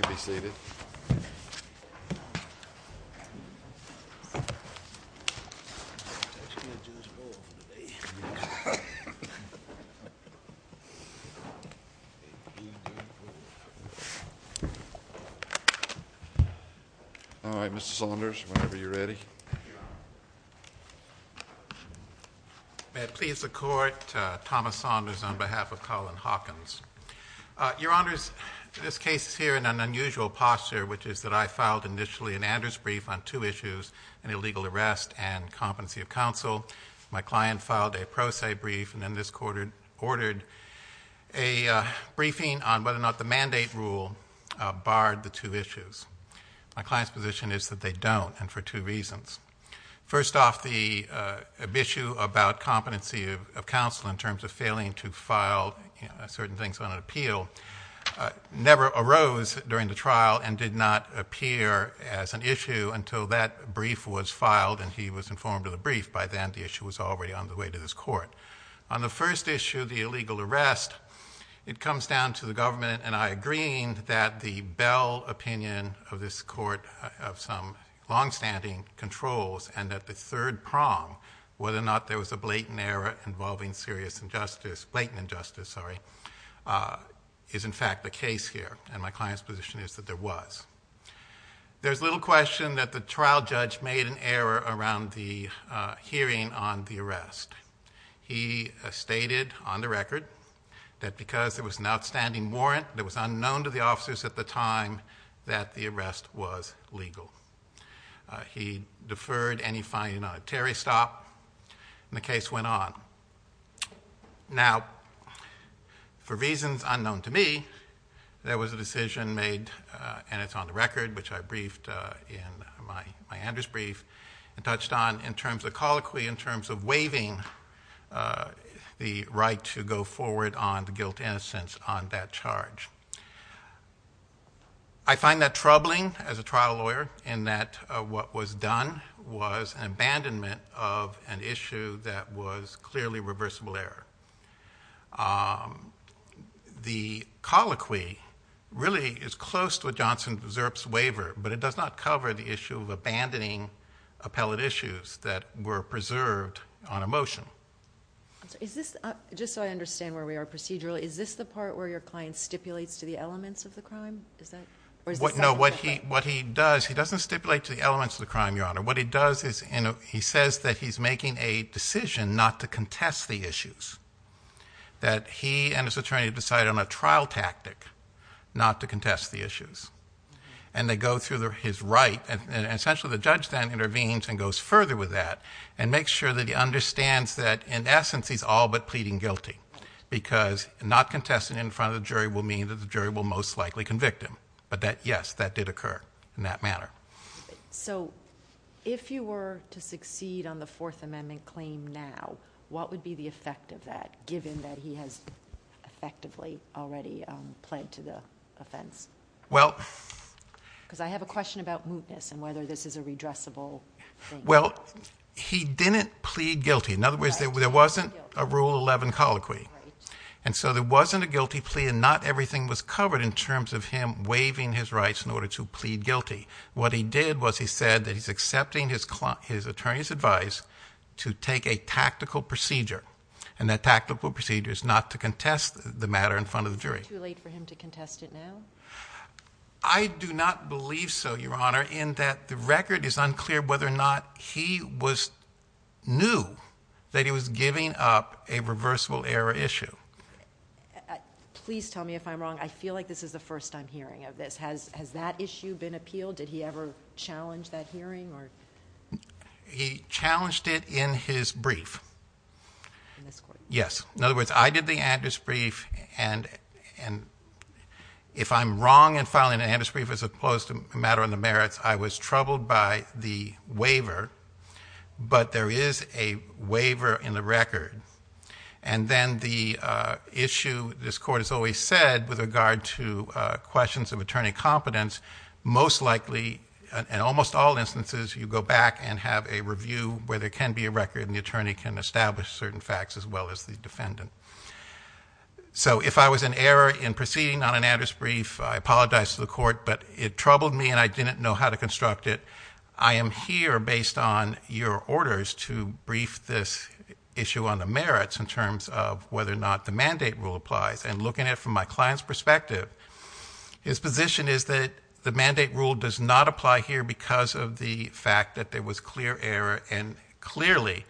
May it please the Court, Thomas Saunders on behalf of Collin Hawkins. Your Honors, this case is here in an unusual posture, which is that I filed initially an Anders brief on two issues, an illegal arrest and competency of counsel. My client filed a Prose brief, and then this Court ordered a briefing on whether or not the mandate rule barred the two issues. My client's position is that they don't, and for two reasons. First off, the issue about competency of counsel in terms of failing to file certain things on an appeal never arose during the trial and did not appear as an issue until that brief was filed and he was informed of the brief. By then, the issue was already on the way to this Court. On the first issue, the illegal arrest, it comes down to the government and I agreeing that the Bell opinion of this Court of some longstanding controls and that the third prong, whether or not there was a blatant error involving serious injustice, blatant injustice, sorry, is in fact the case here. And my client's position is that there was. There's little question that the trial judge made an error around the hearing on the arrest. He stated on the record that because there was an outstanding warrant that was unknown to the officers at the time that the arrest was legal. He deferred any finding on a Terry stop and the case went on. Now, for reasons unknown to me, there was a decision made and it's on the record, which I briefed in my Andrews brief and touched on in terms of the colloquy, in terms of waiving the right to go forward on the guilt innocence on that charge. I find that troubling as a trial lawyer in that what was done was an abandonment of an issue that was clearly reversible error. The colloquy really is close to a Johnson deserves waiver, but it does not cover the issue of abandoning appellate issues that were preserved on a motion. Just so I understand where we are procedurally, is this the part where your client stipulates to the elements of the crime? Is that what he does? He doesn't stipulate to the elements of the crime. Your honor. What he does is he says that he's making a decision not to contest the issues that he and his attorney decided on a trial tactic not to contest the issues and they go through his right and essentially the judge then intervenes and goes further with that and makes sure that he understands that in essence he's all but pleading guilty because not contesting in front of the jury will mean that the jury will most likely convict him, but that yes, that did occur in that manner. So if you were to succeed on the fourth amendment claim now, what would be the effect of that given that he has effectively already pled to the offense? Well, because I have a question about mootness and whether this is a redressable thing. Well, he didn't plead guilty. In other words, there wasn't a rule 11 colloquy and so there wasn't a guilty plea and not everything was covered in terms of him waiving his rights in order to plead guilty. What he did was he said that he's accepting his client, his attorney's advice to take a tactical procedure and that tactical procedure is not to contest the matter in front of the jury. Is it too late for him to contest it now? I do not believe so, Your Honor, in that the record is unclear whether or not he was new that he was giving up a reversible error issue. Please tell me if I'm wrong. I feel like this is the first time hearing of this. Has that issue been appealed? Did he ever challenge that hearing or? He challenged it in his brief. In this court? Yes. In other words, I did the Andrews brief and if I'm wrong in filing an Andrews brief as opposed to a matter on the merits, I was troubled by the waiver, but there is a waiver in the record. And then the issue this court has always said with regard to questions of attorney competence most likely in almost all instances you go back and have a review where there can be a record and the attorney can establish certain facts as well as the defendant. So if I was an error in proceeding on an Andrews brief, I apologize to the court, but it troubled me and I didn't know how to construct it. I am here based on your orders to brief this issue on the merits in terms of whether or not the mandate rule applies and looking at it from my client's perspective, his position is that the mandate rule does not apply here because of the fact that there was clear error and clearly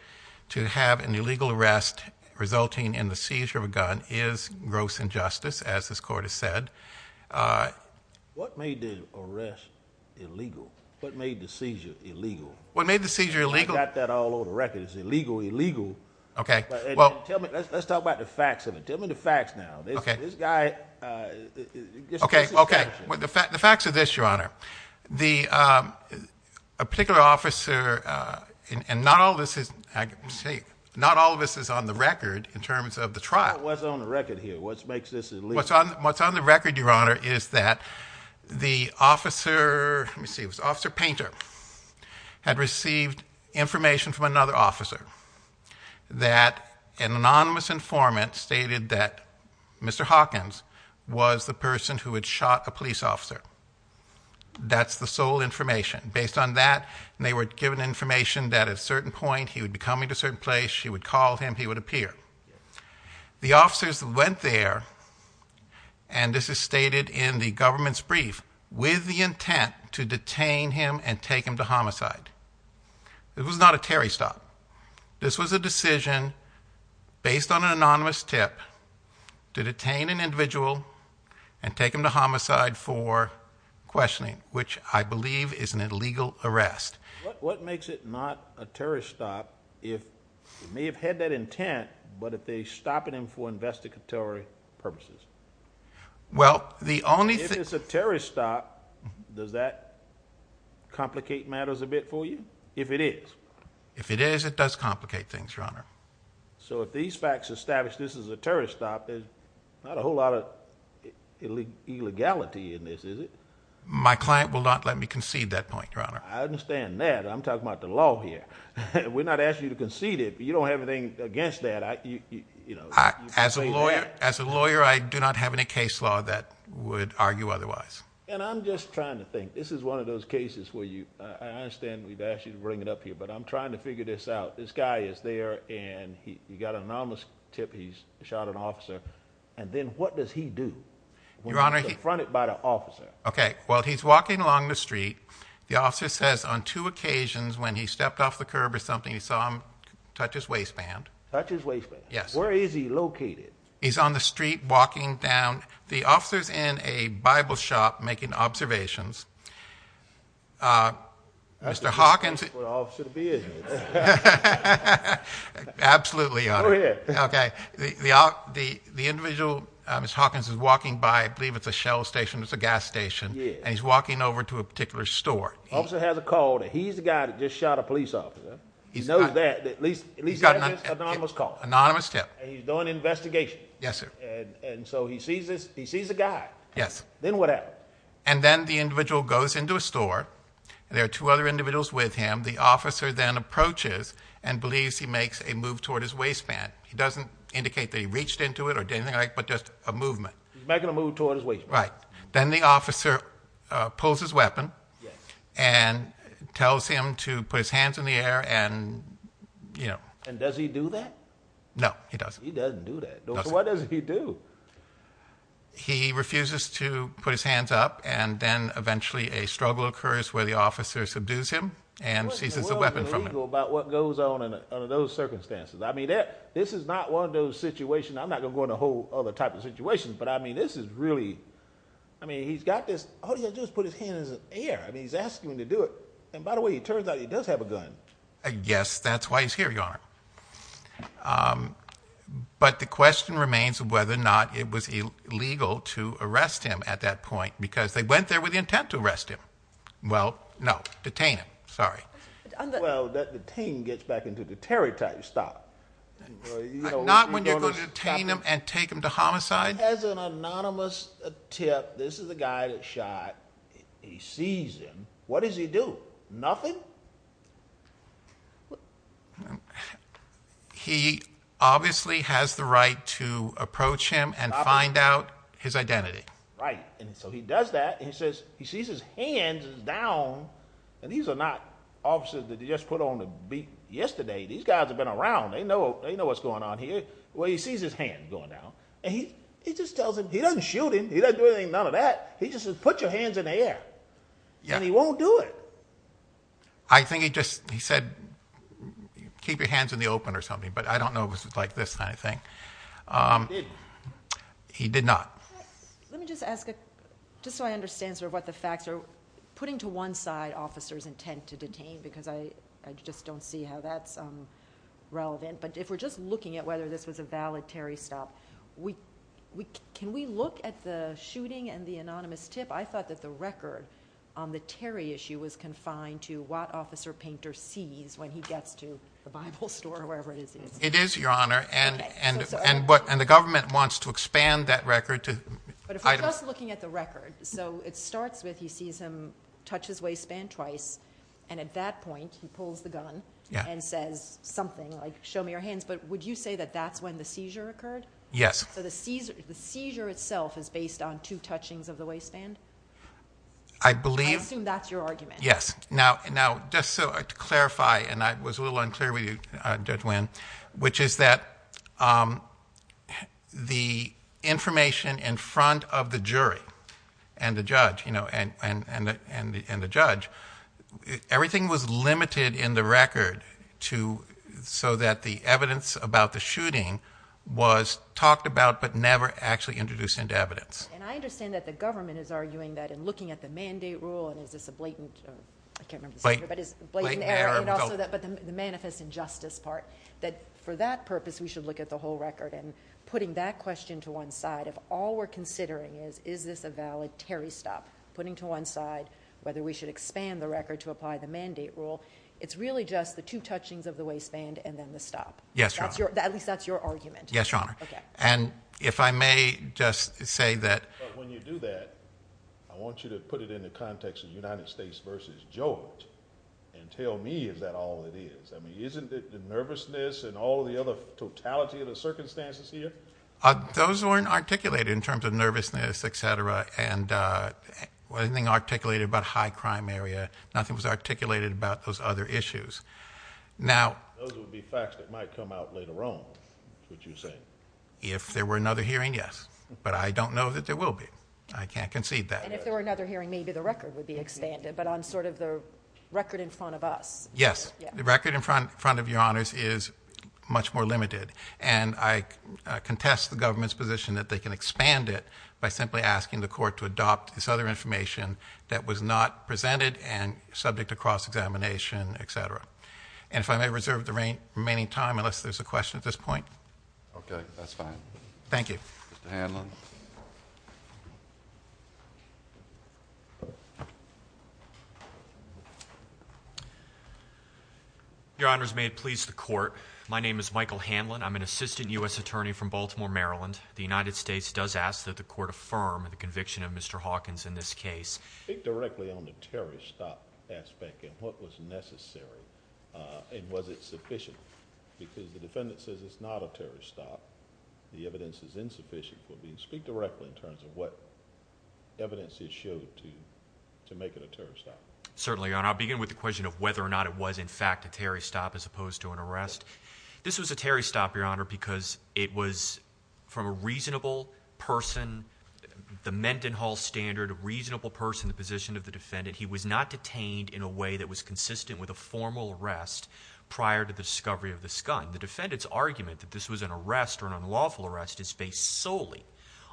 to have an illegal arrest resulting in the seizure of a gun is gross injustice as this court has said. What made the arrest illegal? What made the seizure illegal? What made the seizure illegal? I got that all over the record. It's illegal, illegal. Okay. Well, let's talk about the facts of it. Tell me the facts now. Okay. This guy, uh, okay. Okay. Well, the fact, the facts of this, your honor, the, um, a particular officer, uh, and not all of this is safe. Not all of this is on the record in terms of the trial was on the record here. What's makes this what's on, what's on the record, your honor, is that the officer receives officer painter had received information from another officer that an anonymous informant stated that Mr. Hawkins was the person who had shot a police officer. That's the sole information based on that. And they were given information that at a certain point he would be coming to a certain place. She would call him, he would appear. The officers went there and this is stated in the government's it was not a Terry stop. This was a decision based on an anonymous tip to detain an individual and take him to homicide for questioning, which I believe is an illegal arrest. What makes it not a terrorist stop? If you may have had that intent, but if they stop it in for investigatory purposes, well, the only thing is a terrorist stop. Does that complicate matters a bit for you? If it is, if it is, it does complicate things, your honor. So if these facts established this is a terrorist stop, there's not a whole lot of illegality in this, is it? My client will not let me concede that point, your honor. I understand that I'm talking about the law here. We're not asking you to concede it, but you don't have anything against that. You know, as a lawyer, as a lawyer, I do not have any case law that would argue otherwise. And I'm just trying to think this is one of those cases where you, I understand we've asked you to bring it up here, but I'm trying to figure this out. This guy is there and he got an anonymous tip. He's shot an officer. And then what does he do? Your honor? He fronted by the officer. Okay. Well, he's walking along the street. The officer says on two occasions when he stepped off the curb or something, he saw him touch his waistband, touch his waistband. Yes. Where is he located? He's on the street walking down. The officer's in a Bible shop making observations. Uh, Mr. Hawkins, absolutely. Okay. The, the, the, the individual, uh, Ms. Hawkins is walking by, I believe it's a Shell station. It's a gas station. And he's walking over to a particular store. Officer has a call that he's the guy that just shot a police officer. He knows that at least, at least he's got an anonymous call. Anonymous tip. And he's doing an investigation. Yes, sir. And so he sees this, he sees the guy. Yes. Then what happened? And then the individual goes into a store and there are two other individuals with him. The officer then approaches and believes he makes a move toward his waistband. He doesn't indicate that he reached into it or did anything like, but just a movement. He's making a move toward his waistband. Right. Then the officer pulls his weapon and tells him to put his hands in the air. And you know, and does he do that? No, he doesn't. He doesn't do that. No. So what does he do? He refuses to put his hands up. And then eventually a struggle occurs where the officer subdues him and seizes the weapon from him about what goes on in those circumstances. I mean, this is not one of those situations. I'm not going to go in a whole other type of situation, but I mean, this is really, I mean, he's got this, how do you just put his hand in the air? I mean, he's asking me to do it. And by the way, it does have a gun. I guess that's why he's here. Your Honor. Um, but the question remains of whether or not it was illegal to arrest him at that point, because they went there with the intent to arrest him. Well, no. Detain him. Sorry. Well, that the team gets back into the Terry type. Stop. Not when you're going to detain him and take him to homicide as an anonymous tip. This is the guy that shot. He sees him. What does he do? Nothing. He obviously has the right to approach him and find out his identity. Right. And so he does that. He says he sees his hands down and these are not officers that you just put on the beat yesterday. These guys have been around. They know, they know what's going on here. Well, he sees his hand going down and he just tells him he doesn't shoot him. He doesn't do anything. None of that. He just says, put your hands in the air and he won't do it. I think he just, he said, keep your hands in the open or something, but I don't know if it's like this kind of thing. Um, he did not. Let me just ask it just so I understand sort of what the facts are putting to one side officers intent to detain because I just don't see how that's relevant. But if we're just looking at whether this was a valid Terry stop, we can, we look at the shooting and the anonymous tip. I thought that the record on the Terry issue was confined to what officer painter sees when he gets to the Bible store or wherever it is. It is your honor. And, and, and what, and the government wants to expand that record to looking at the record. So it starts with, he sees him touch his waist band twice. And at that point he pulls the gun and says something like, show me your hands. But would you say that that's when the seizure occurred? Yes. So the Caesar, the seizure itself is based on two touchings of the waistband. I believe that's your argument. Yes. Now, now just so I clarify, and I was a little unclear with you, uh, judge when, which is that, um, the information in front of the jury and the judge, you know, and, and, and the, and the judge, everything was limited in the record to, so that the evidence about the shooting was talked about, but never actually introduced into evidence. And I understand that the government is arguing that in looking at the mandate rule, and is this a blatant, I can't remember, but it's blatant, but the manifest injustice part that for that purpose, we should look at the whole record and putting that question to one side of all we're considering is, is this a valid Terry stop putting to one side, whether we should expand the record to apply the mandate rule? It's really just the two touchings of the waistband and then the stop. Yes. That's your, at least that's your argument. Yes, your honor. And if I may just say that when you do that, I want you to put it in the context of the United States versus George and tell me, is that all it is? I mean, isn't it the nervousness and all the other totality of the circumstances here? Uh, those weren't articulated in terms of nervousness, et cetera. And, uh, well, anything articulated about high crime area, nothing was articulated about those other issues. Now, those would be facts that might come out later on. Would you say if there were another hearing? Yes. But I don't know that there will be, I can't concede that. And if there were another hearing, maybe the record would be expanded, but on sort of the record in front of us. Yes. The record in front front of your honors is much more limited. And I contest the government's position that they can expand it by simply asking the court to adopt this other information that was not presented and subject to cross examination, et cetera. And if I may reserve the rain remaining time unless there's a question at this point. Okay. That's fine. Thank you. Mr. Hanlon. Your honors, may it please the court? My name is Michael Hanlon. I'm an assistant U.S. attorney from Baltimore, Maryland. The United States does ask that the court affirm the conviction of Mr. Hawkins in this case. Speak directly on the terrorist stop aspect and what was necessary. Uh, and was it sufficient? Because the defendant says it's not a terrorist stop. The evidence is insufficient for me to speak directly in terms of what evidence is showed to make it a terrorist stop. Certainly, your honor. I'll begin with the question of whether or not it was in fact a terrorist stop as opposed to an arrest. This was a terrorist stop, your honor, because it was from a reasonable person, the Mendenhall standard, a reasonable person, the position of the defendant. He was not detained in a way that was consistent with a formal arrest prior to the discovery of this gun. The defendant's argument that this was an arrest or an unlawful arrest is based solely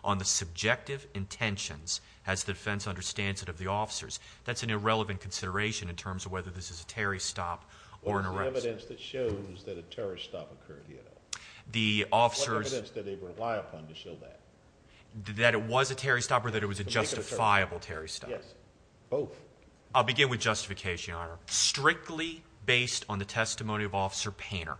on the subjective intentions as the defense understands it of the officers. That's an irrelevant consideration in terms of whether this is a terrorist stop or an arrest. What evidence that shows that a terrorist stop occurred here, though? The officers... What evidence did they rely upon to show that? That it was a terrorist stop or that it was a justifiable terrorist stop? Yes. Both. I'll begin with justification, your honor. Strictly based on the testimony of Officer Painter,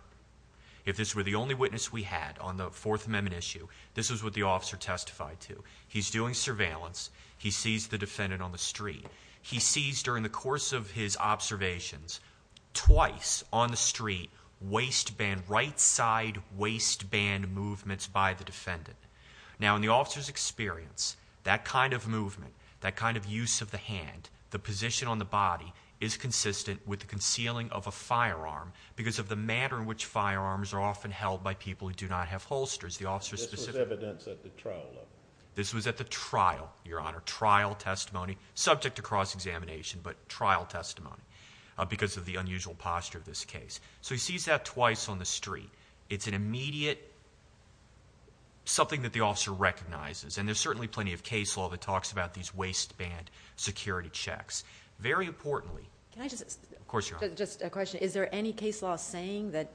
if this were the only witness we had on the Fourth Amendment issue, this is what the officer testified to. He's doing surveillance. He sees the defendant on the street. He sees during the course of his observations, twice on the street, waistband, right side waistband movements by the defendant. Now, in the officer's experience, that kind of movement, that kind of use of the hand, the position on the body is consistent with the concealing of a firearm because of the manner in which firearms are often held by people who do not have holsters. This was evidence at the trial level? This was at the trial, your honor. Trial testimony, subject to cross-examination, but trial testimony because of the unusual posture of this case. So he sees that twice on the street. It's an immediate... Something that the officer recognizes. And there's certainly plenty of case law that talks about these waistband security checks. Very importantly... Can I just... Of course, your honor. Just a question. Is there any case law saying that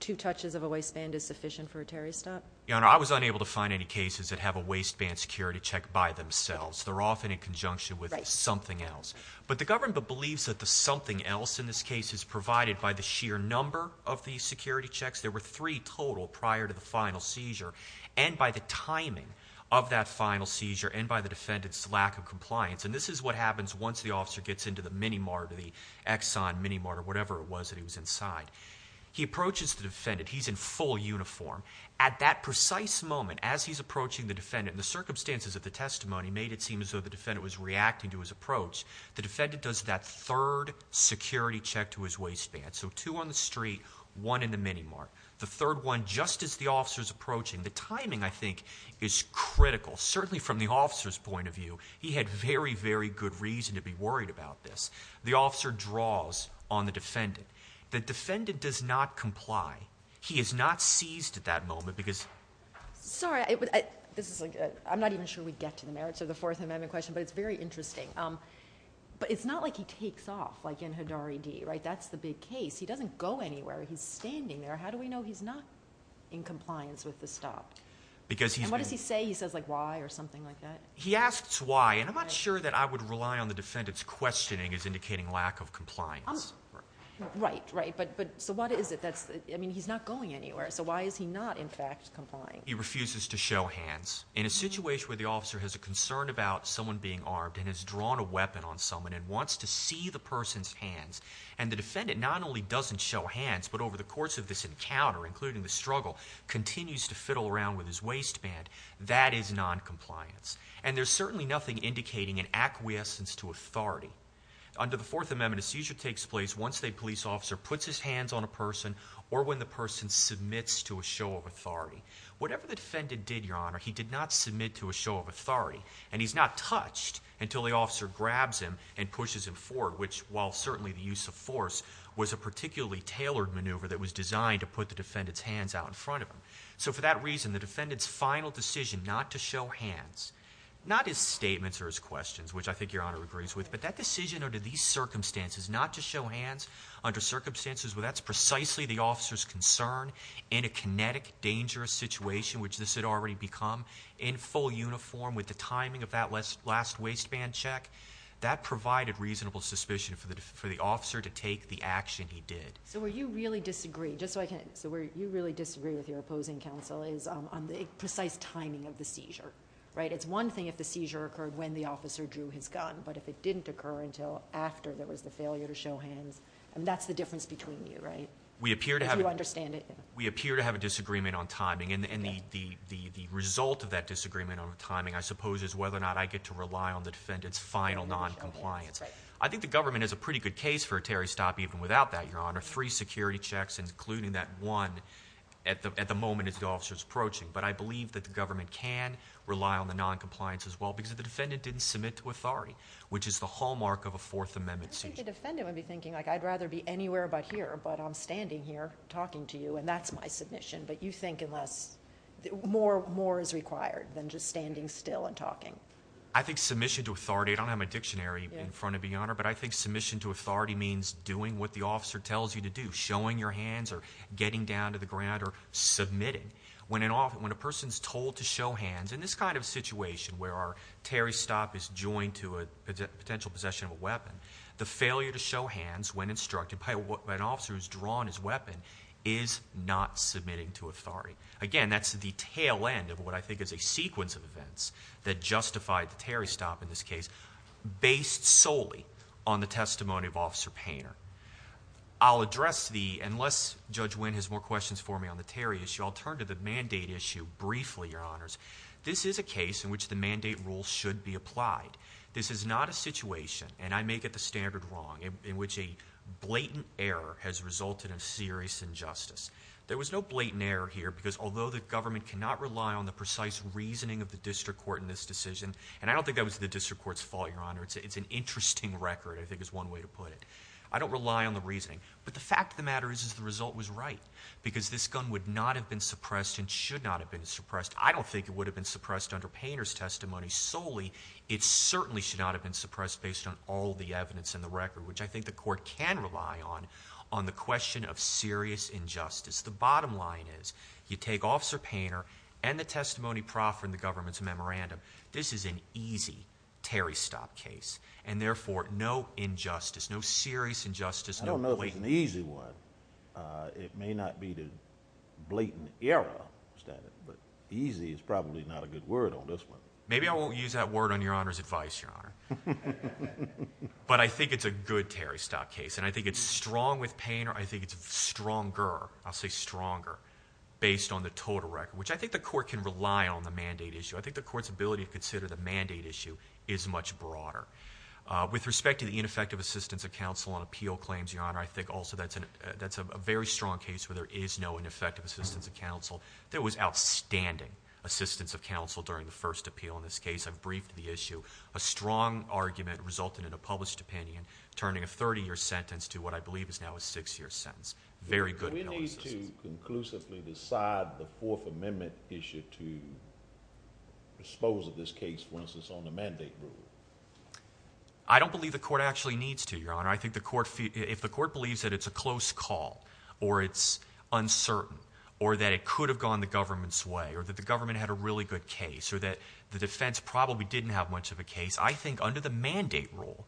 two touches of a waistband is sufficient for a terrorist act? Your honor, I was unable to find any cases that have a waistband security check by themselves. They're often in conjunction with something else. But the government believes that the something else in this case is provided by the sheer number of these security checks. There were three total prior to the final seizure and by the timing of that final seizure and by the defendant's lack of compliance. And this is what happens once the officer gets into the minimart or the Exxon minimart or whatever it was that he was inside. He approaches the defendant. He's in full uniform. At that precise moment, as he's approaching the defendant, the circumstances of the testimony made it seem as though the defendant was reacting to his approach. The defendant does that third security check to his waistband. So two on the street, one in the minimart. The third one just as the officer's approaching. The timing, I think, is critical. Certainly from the officer's point of view, he had very, very good reason to be worried about this. The officer draws on the defendant. The defendant does not comply. He is not seized at that moment because... Sorry, I'm not even sure we get to the merits of the Fourth Amendment question, but it's very interesting. But it's not like he takes off, like in Haddari D, right? That's the big case. He doesn't go anywhere. He's standing there. How do we know he's not in compliance with the stop? Because he's... And what does he say? He says, like, why or something like that? He asks why, and I'm not sure that I would rely on the defendant's questioning as indicating lack of compliance. Right, right. But so what is it that's... I mean, he's not going anywhere. So why is he not, in fact, complying? He refuses to show hands. In a situation where the officer has a concern about someone being armed and has drawn a weapon on someone and wants to see the person's hands, and the defendant not only doesn't show hands, but over the course of this encounter, including the struggle, continues to fiddle around with his waistband, that is noncompliance. And there's certainly nothing indicating an acquiescence to authority. Under the Fourth Amendment, a seizure takes place once a police officer puts his hands on a person or when the person submits to a show of authority. Whatever the defendant did, Your Honor, he did not submit to a show of authority, and he's not touched until the officer grabs him and pushes him forward, which, while certainly the use of force, was a particularly tailored maneuver that was in front of him. So for that reason, the defendant's final decision not to show hands, not his statements or his questions, which I think Your Honor agrees with, but that decision under these circumstances, not to show hands under circumstances where that's precisely the officer's concern in a kinetic, dangerous situation, which this had already become, in full uniform with the timing of that last waistband check, that provided reasonable suspicion for the officer to take the action he did. So where you really disagree, just so I can, so where you really disagree with your opposing counsel is on the precise timing of the seizure, right? It's one thing if the seizure occurred when the officer drew his gun, but if it didn't occur until after there was the failure to show hands, I mean, that's the difference between you, right? If you understand it. We appear to have a disagreement on timing, and the result of that disagreement on timing, I suppose, is whether or not I get to rely on the defendant's final noncompliance. I think the government has a pretty good case for a Terry stop even without that, Your Honor, three security checks, including that one, at the moment as the officer's approaching, but I believe that the government can rely on the noncompliance as well, because if the defendant didn't submit to authority, which is the hallmark of a Fourth Amendment seizure. I think the defendant would be thinking, like, I'd rather be anywhere but here, but I'm standing here talking to you, and that's my submission, but you think unless, more is required than just standing still and talking. I think submission to authority, I don't have my dictionary in front of me, Your Honor, but I think submission to authority means doing what the officer tells you to do, showing your hands or getting down to the ground or submitting. When a person's told to show hands, in this kind of situation where our Terry stop is joined to a potential possession of a weapon, the failure to show hands when instructed by an officer who's drawn his weapon is not submitting to authority. Again, that's the tail end of what I think is a sequence of events that justified the Terry stop in this case, based solely on the I'll address the, unless Judge Wynn has more questions for me on the Terry issue, I'll turn to the mandate issue briefly, Your Honors. This is a case in which the mandate rule should be applied. This is not a situation, and I may get the standard wrong, in which a blatant error has resulted in serious injustice. There was no blatant error here, because although the government cannot rely on the precise reasoning of the district court in this decision, and I don't think that was the district court's fault, Your Honor, it's an interesting record, I think is one way to put it. I don't rely on the reasoning, but the fact of the matter is the result was right, because this gun would not have been suppressed and should not have been suppressed. I don't think it would have been suppressed under Painter's testimony solely. It certainly should not have been suppressed based on all the evidence in the record, which I think the court can rely on, on the question of serious injustice. The bottom line is, you take Officer Painter and the testimony proffered in the government's record, there was no injustice, no serious injustice. I don't know if it's an easy one. It may not be the blatant error standard, but easy is probably not a good word on this one. Maybe I won't use that word on Your Honor's advice, Your Honor. But I think it's a good Terry Stock case, and I think it's strong with Painter. I think it's stronger, I'll say stronger, based on the total record, which I think the court can rely on the mandate issue. I think the court's ability to consider the mandate issue is much broader. With respect to the ineffective assistance of counsel on appeal claims, Your Honor, I think also that's a very strong case where there is no ineffective assistance of counsel. There was outstanding assistance of counsel during the first appeal in this case. I've briefed the issue. A strong argument resulted in a published opinion, turning a 30-year sentence to what I believe is now a six-year sentence. Very good. Do we need to conclusively decide the Fourth Amendment issue to dispose of this case, for instance, on the mandate rule? I don't believe the court actually needs to, Your Honor. I think if the court believes that it's a close call, or it's uncertain, or that it could have gone the government's way, or that the government had a really good case, or that the defense probably didn't have much of a case, I think under the mandate rule,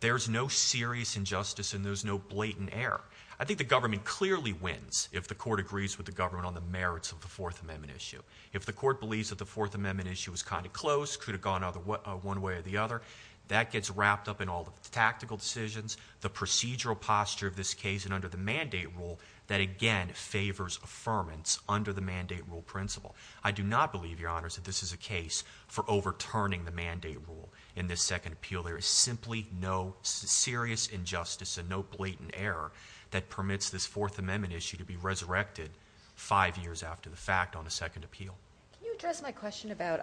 there's no serious injustice and there's no blatant error. I think the government clearly wins if the court agrees with the government on the merits of the Fourth Amendment issue. If the court believes that the Fourth Amendment issue was kind of close, could have gone one way or the other, that gets wrapped up in all the tactical decisions, the procedural posture of this case, and under the mandate rule, that again favors affirmance under the mandate rule principle. I do not believe, Your Honor, that this is a case for overturning the mandate rule in this second appeal. There is simply no serious injustice and no blatant error that permits this Fourth Amendment issue to be resurrected five years after the fact on the second appeal. Can you address my question about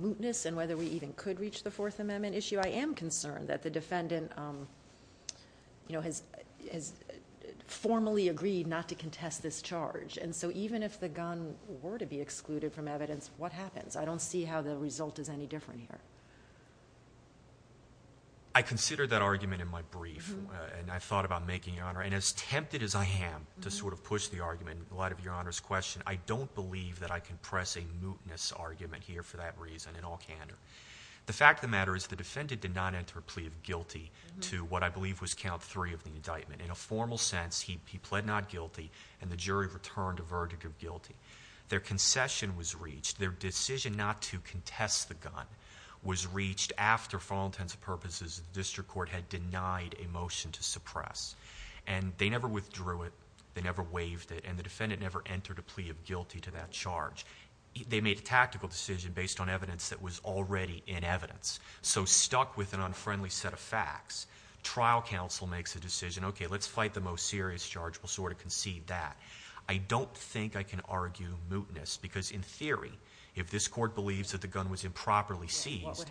mootness and whether we even could reach the Fourth Amendment issue? I am concerned that the defendant has formally agreed not to contest this charge, and so even if the gun were to be excluded from evidence, what happens? I don't see how the result is any different here. I considered that argument in my brief, and I thought about making, Your Honor, and as tempted as I am to sort of push the argument in light of Your Honor's question, I don't believe that I can press a mootness argument here for that reason in all candor. The fact of the matter is the defendant did not enter a plea of guilty to what I believe was count three of the indictment. In a formal sense, he pled not guilty, and the jury returned a verdict of guilty. Their concession was reached. Their decision not to contest the gun was reached after, for all intents and purposes, the district court had denied a motion to suppress, and they never withdrew it. They never waived it, and the defendant never entered a plea of guilty to that charge. They made a tactical decision based on evidence that was already in evidence, so stuck with an unfriendly set of facts. Trial counsel makes a decision, okay, let's fight the most serious charge. We'll sort of concede that. I don't think I can argue mootness, because in theory, if this court believes that the gun was improperly seized,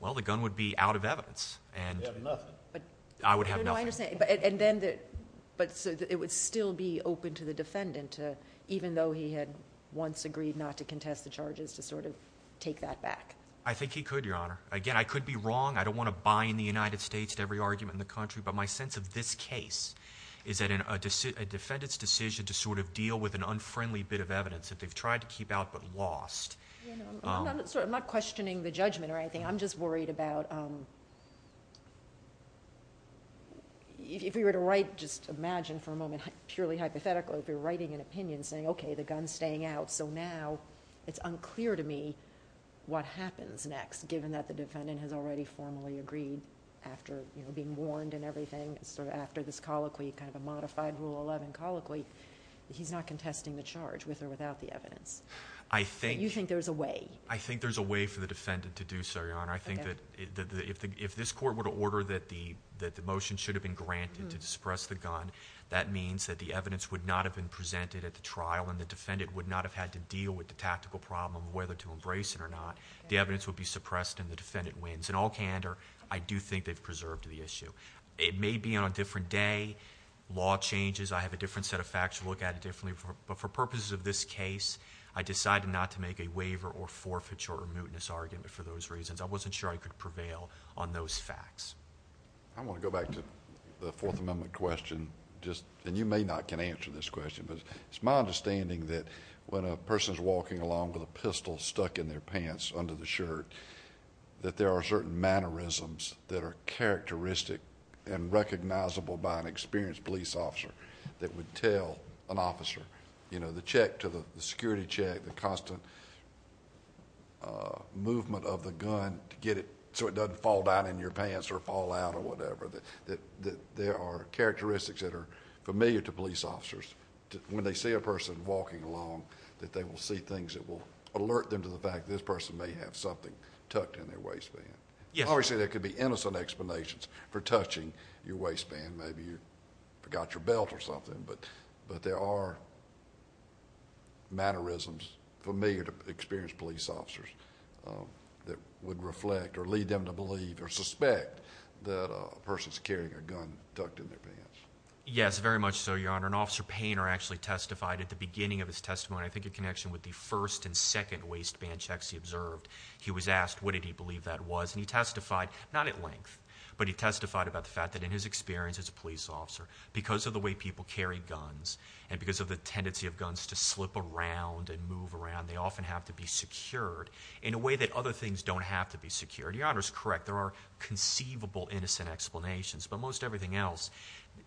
well, the gun would be out of evidence, and I would have nothing. And then, but it would still be open to the defendant to, even though he had once agreed not to contest the charges, to sort of take that back. I think he could, Your Honor. Again, I could be wrong. I don't want to bind the United States to every argument in the country, but my sense of this case is that a defendant's decision to sort of deal with an unfriendly bit of evidence that they've tried to keep out but lost. I'm not questioning the judgment or the evidence. If you were to write, just imagine for a moment, purely hypothetically, if you're writing an opinion saying, okay, the gun's staying out, so now it's unclear to me what happens next, given that the defendant has already formally agreed, after being warned and everything, sort of after this colloquy, kind of a modified Rule 11 colloquy, he's not contesting the charge, with or without the evidence. You think there's a way. I think there's a way for defendant to do so, Your Honor. I think that if this court were to order that the motion should have been granted to suppress the gun, that means that the evidence would not have been presented at the trial and the defendant would not have had to deal with the tactical problem of whether to embrace it or not. The evidence would be suppressed and the defendant wins. In all candor, I do think they've preserved the issue. It may be on a different day. Law changes. I have a different set of facts to look at it differently, but for purposes of this case, I decided not to make a argument for those reasons. I wasn't sure I could prevail on those facts. I want to go back to the Fourth Amendment question, just, and you may not can answer this question, but it's my understanding that when a person is walking along with a pistol stuck in their pants under the shirt, that there are certain mannerisms that are characteristic and recognizable by an experienced police officer that would tell an officer, you know, the check to the security check, the constant movement of the gun to get it so it doesn't fall down in your pants or fall out or whatever, that there are characteristics that are familiar to police officers. When they see a person walking along, that they will see things that will alert them to the fact this person may have something tucked in their waistband. Obviously, there could be innocent explanations for touching your waistband. Maybe you forgot your belt or something, but there are familiar to experienced police officers that would reflect or lead them to believe or suspect that a person is carrying a gun tucked in their pants. Yes, very much so, Your Honor. An officer Painter actually testified at the beginning of his testimony, I think in connection with the first and second waistband checks he observed. He was asked what did he believe that was, and he testified, not at length, but he testified about the fact that in his experience as a police officer, because of the way people carry guns and because of the tendency of guns to slip around and move around, they often have to be secured in a way that other things don't have to be secured. Your Honor is correct. There are conceivable innocent explanations, but most everything else,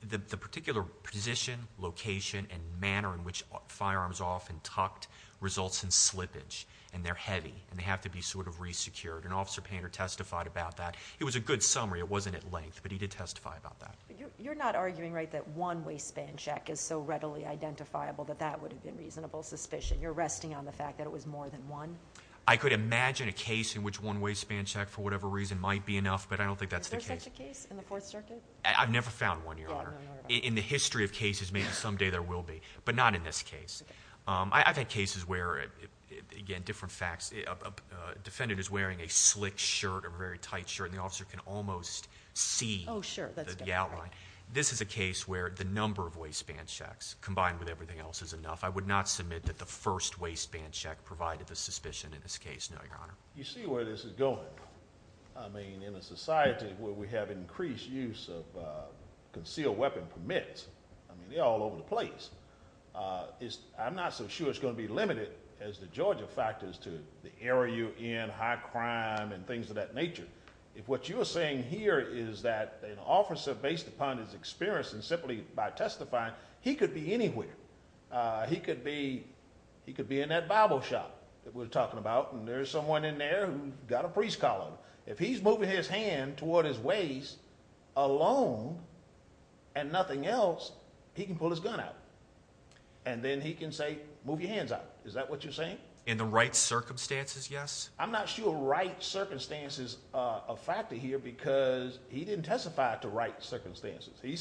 the particular position, location, and manner in which firearms are often tucked results in slippage, and they're heavy, and they have to be sort of re-secured. An officer Painter testified about that. It was a good summary. It wasn't at length, but he did testify about that. You're not arguing, right, that one waistband check is so readily identifiable that that would have been reasonable suspicion? You're resting on the fact that it was more than one? I could imagine a case in which one waistband check, for whatever reason, might be enough, but I don't think that's the case. Is there such a case in the Fourth Circuit? I've never found one, Your Honor. In the history of cases, maybe someday there will be, but not in this case. I've had cases where, again, different facts, a defendant is wearing a slick shirt, a very tight shirt, and the officer can almost see the outline. This is a case where the I would not submit that the first waistband check provided the suspicion in this case, no, Your Honor. You see where this is going. I mean, in a society where we have increased use of concealed weapon permits, I mean, they're all over the place. I'm not so sure it's going to be limited as the Georgia factors to the area you're in, high crime, and things of that nature. If what you're saying here is that an officer, based upon his experience, and simply by testifying, he could be anywhere. He could be in that Bible shop that we're talking about, and there's someone in there who's got a priest collar. If he's moving his hand toward his waist alone and nothing else, he can pull his gun out, and then he can say, move your hands out. Is that what you're saying? In the right circumstances, yes. I'm not sure right circumstances are a factor here because he didn't testify to right circumstances. I don't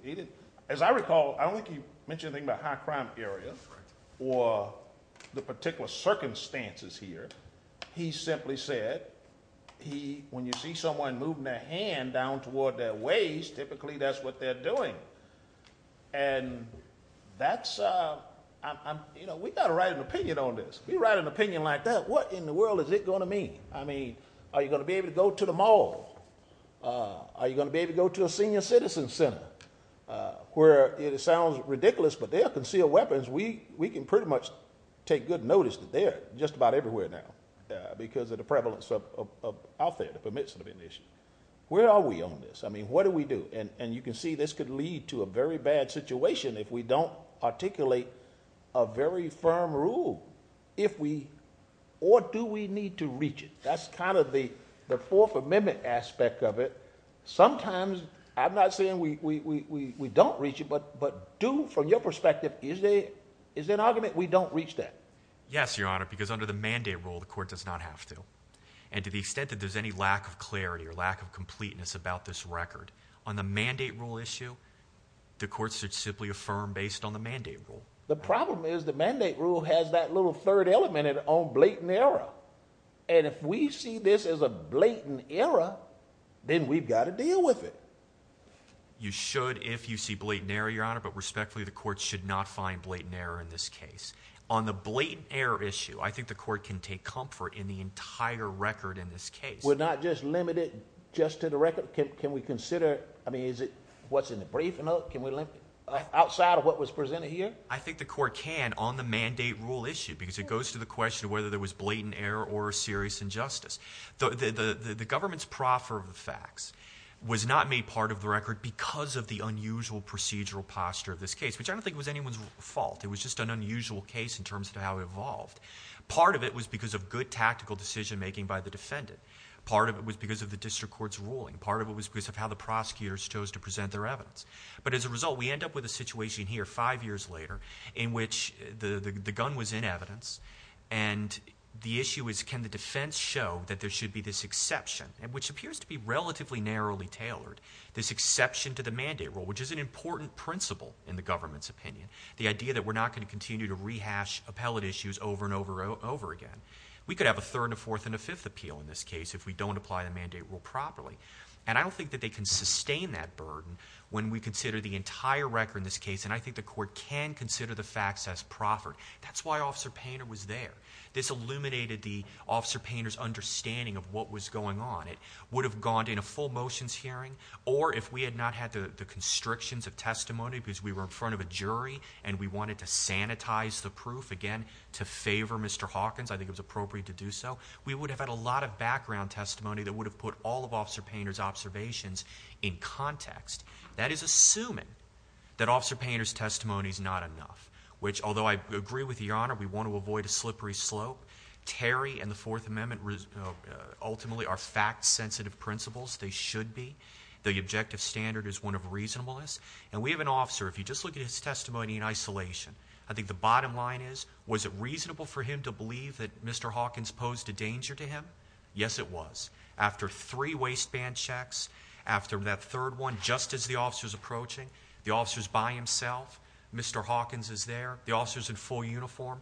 think he mentioned anything about high crime area or the particular circumstances here. He simply said, when you see someone moving their hand down toward their waist, typically that's what they're doing. We've got to write an opinion on this. We write an opinion like that. What in the world is it going to mean? I mean, are you going to be able to go to the mall? Are you going to be able to go to a senior citizen center, where it sounds ridiculous, but there are concealed weapons. We can pretty much take good notice that they're just about everywhere now because of the prevalence of out there that permits it to be an issue. Where are we on this? I mean, what do we do? You can see this could lead to a very bad situation if we don't articulate a very firm rule, or do we need to reach it? That's kind of the aspect of it. Sometimes, I'm not saying we don't reach it, but do, from your perspective, is there an argument we don't reach that? Yes, Your Honor, because under the mandate rule, the court does not have to. To the extent that there's any lack of clarity or lack of completeness about this record, on the mandate rule issue, the court should simply affirm based on the mandate rule. The problem is the mandate rule has that little third element on blatant error. If we see this as a blatant error, then we've got to deal with it. You should if you see blatant error, Your Honor, but respectfully, the court should not find blatant error in this case. On the blatant error issue, I think the court can take comfort in the entire record in this case. We're not just limited just to the record? Can we consider, I mean, is it what's in the briefing note? Outside of what was presented here? I think the court can on the mandate rule issue because it goes to the question of whether there was serious injustice. The government's proffer of the facts was not made part of the record because of the unusual procedural posture of this case, which I don't think was anyone's fault. It was just an unusual case in terms of how it evolved. Part of it was because of good tactical decision making by the defendant. Part of it was because of the district court's ruling. Part of it was because of how the prosecutors chose to present their evidence. As a result, we end up with a situation here five years later in which the gun was in evidence and the issue is can the defense show that there should be this exception, which appears to be relatively narrowly tailored, this exception to the mandate rule, which is an important principle in the government's opinion. The idea that we're not going to continue to rehash appellate issues over and over again. We could have a third, a fourth, and a fifth appeal in this case if we don't apply the mandate rule properly. I don't think that they can sustain that burden when we consider the entire record in I think the court can consider the facts as proffered. That's why Officer Painter was there. This illuminated the Officer Painter's understanding of what was going on. It would have gone in a full motions hearing or if we had not had the constrictions of testimony because we were in front of a jury and we wanted to sanitize the proof, again, to favor Mr. Hawkins, I think it was appropriate to do so, we would have had a lot of background testimony that would have put all of Officer Painter's observations in context. That is Officer Painter's testimony is not enough, which although I agree with Your Honor, we want to avoid a slippery slope. Terry and the Fourth Amendment ultimately are fact-sensitive principles, they should be. The objective standard is one of reasonableness. And we have an officer, if you just look at his testimony in isolation, I think the bottom line is, was it reasonable for him to believe that Mr. Hawkins posed a danger to him? Yes, it was. After three waistband checks, after that third one, just as the officer's approaching, the officer's by himself, Mr. Hawkins is there, the officer's in full uniform,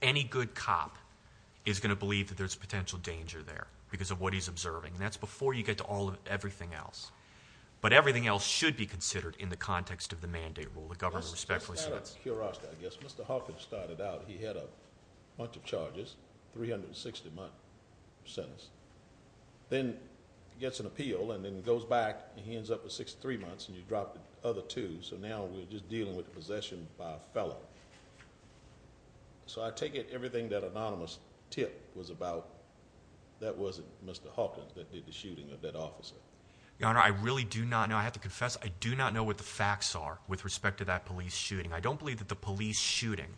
any good cop is going to believe that there's a potential danger there because of what he's observing. That's before you get to all of everything else. But everything else should be considered in the context of the mandate rule, the government respectfully says. Mr. Hawkins started out, he had a bunch of charges, 360 month sentence, then gets an appeal and then goes back and he other two, so now we're just dealing with possession by a fellow. So I take it everything that anonymous tip was about, that wasn't Mr. Hawkins that did the shooting of that officer. Your Honor, I really do not know, I have to confess, I do not know what the facts are with respect to that police shooting. I don't believe that the police shooting,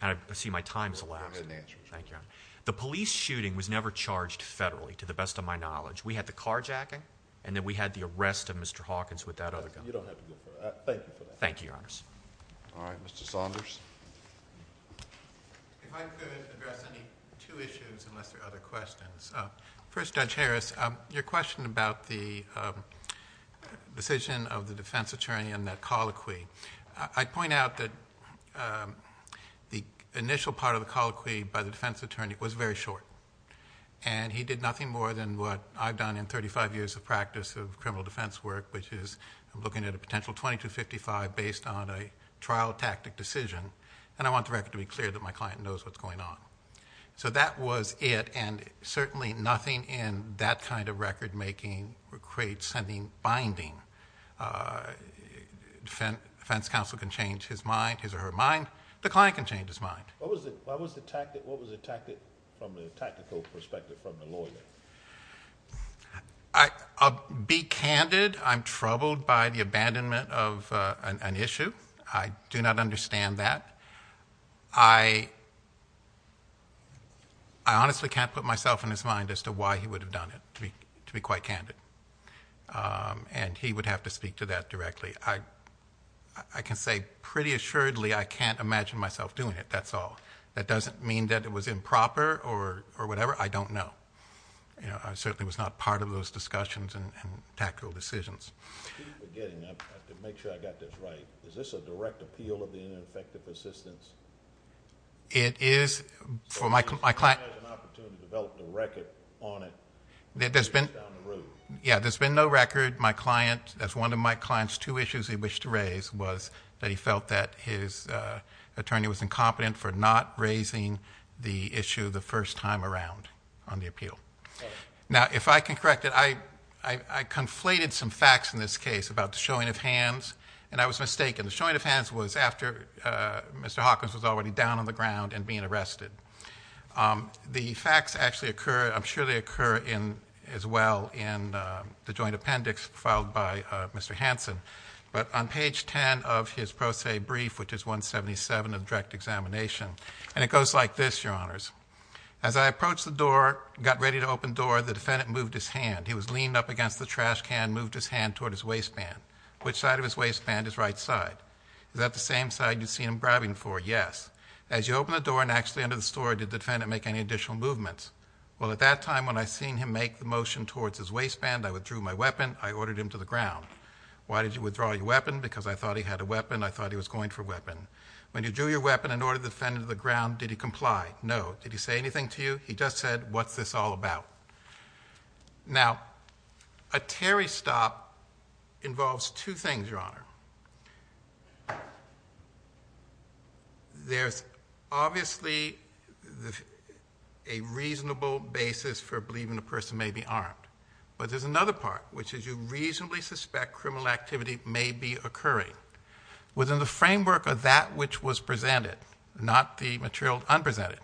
and I see my time's elapsed, thank you. The police shooting was never charged federally, to the best of my knowledge. We had the carjacking and then we had the arrest of Mr. Hawkins. Thank you for that. Thank you, Your Honors. All right, Mr. Saunders. If I could address any two issues unless there are other questions. First, Judge Harris, your question about the decision of the defense attorney and that colloquy, I'd point out that the initial part of the colloquy by the defense attorney was very short. And he did nothing more than what I've done in 35 years of practice of criminal defense work, which is I'm looking at a potential 2255 based on a trial tactic decision, and I want the record to be clear that my client knows what's going on. So that was it, and certainly nothing in that kind of record making creates any binding. Defense counsel can change his mind, his or her mind, the client can change his mind. What was the tactic from the tactical I'm troubled by the abandonment of an issue. I do not understand that. I honestly can't put myself in his mind as to why he would have done it, to be quite candid. And he would have to speak to that directly. I can say pretty assuredly I can't imagine myself doing it, that's all. That doesn't mean that it was improper or whatever, I don't know. I certainly was not part of those discussions and tactical decisions. I have to make sure I got this right. Is this a direct appeal of the ineffective assistance? It is for my client. He has an opportunity to develop the record on it. Yeah, there's been no record. My client, that's one of my client's two issues he wished to raise was that he felt that his attorney was incompetent for not raising the issue the first time around on the appeal. Now, if I can correct it, I conflated some facts in this case about the showing of hands and I was mistaken. The showing of hands was after Mr. Hawkins was already down on the ground and being arrested. The facts actually occur, I'm sure they occur in as well in the joint appendix filed by Mr. Hansen. But on page 10 of his pro se brief, which is 177 of the direct examination, and it goes like this, your honors. As I approached the door, got ready to open door, the defendant moved his hand. He was leaned up against the trash can, moved his hand toward his waistband. Which side of his waistband? His right side. Is that the same side you see him grabbing for? Yes. As you open the door and actually enter the store, did the defendant make any additional movements? Well, at that time, when I seen him make the motion towards his waistband, I withdrew my weapon. I ordered him to the ground. Why did you withdraw your weapon? Because I thought he had a weapon. I thought he was going for a weapon. When you drew your weapon and ordered the defendant to the ground, did he comply? No. Did he say anything to you? He just said, what's this all about? Now, a Terry stop involves two things, your honor. There's obviously a reasonable basis for believing a person may be armed, but there's another part, which is you reasonably suspect criminal activity may be occurring. Within the framework of that which was presented, not the material un-presented,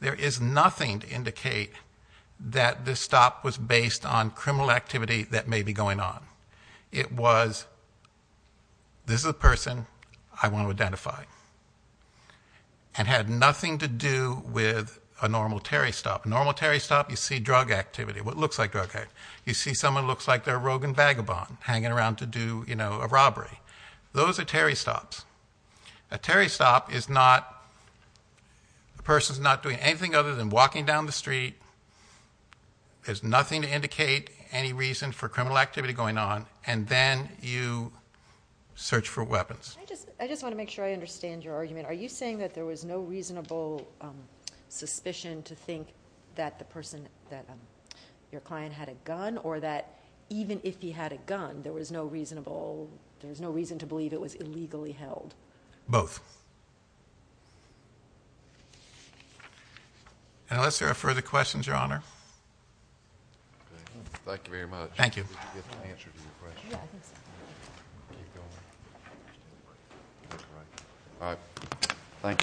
there is nothing to indicate that this stop was based on criminal activity that may be going on. It was, this is a person I want to identify. It had nothing to do with a normal Terry stop. A normal Terry stop, you see drug activity, what looks like drug activity. You see someone looks like a rogue and vagabond hanging around to do a robbery. Those are Terry stops. A Terry stop is not, the person's not doing anything other than walking down the street. There's nothing to indicate any reason for criminal activity going on, and then you search for weapons. I just want to make sure I understand your argument. Are you saying that there was no reasonable suspicion to think that the person, that your client had a gun, or that even if he had a gun, there was no reasonable, there was no reason to believe it was illegally held? Both. Unless there are further questions, your honor. Thank you very much. Thank you.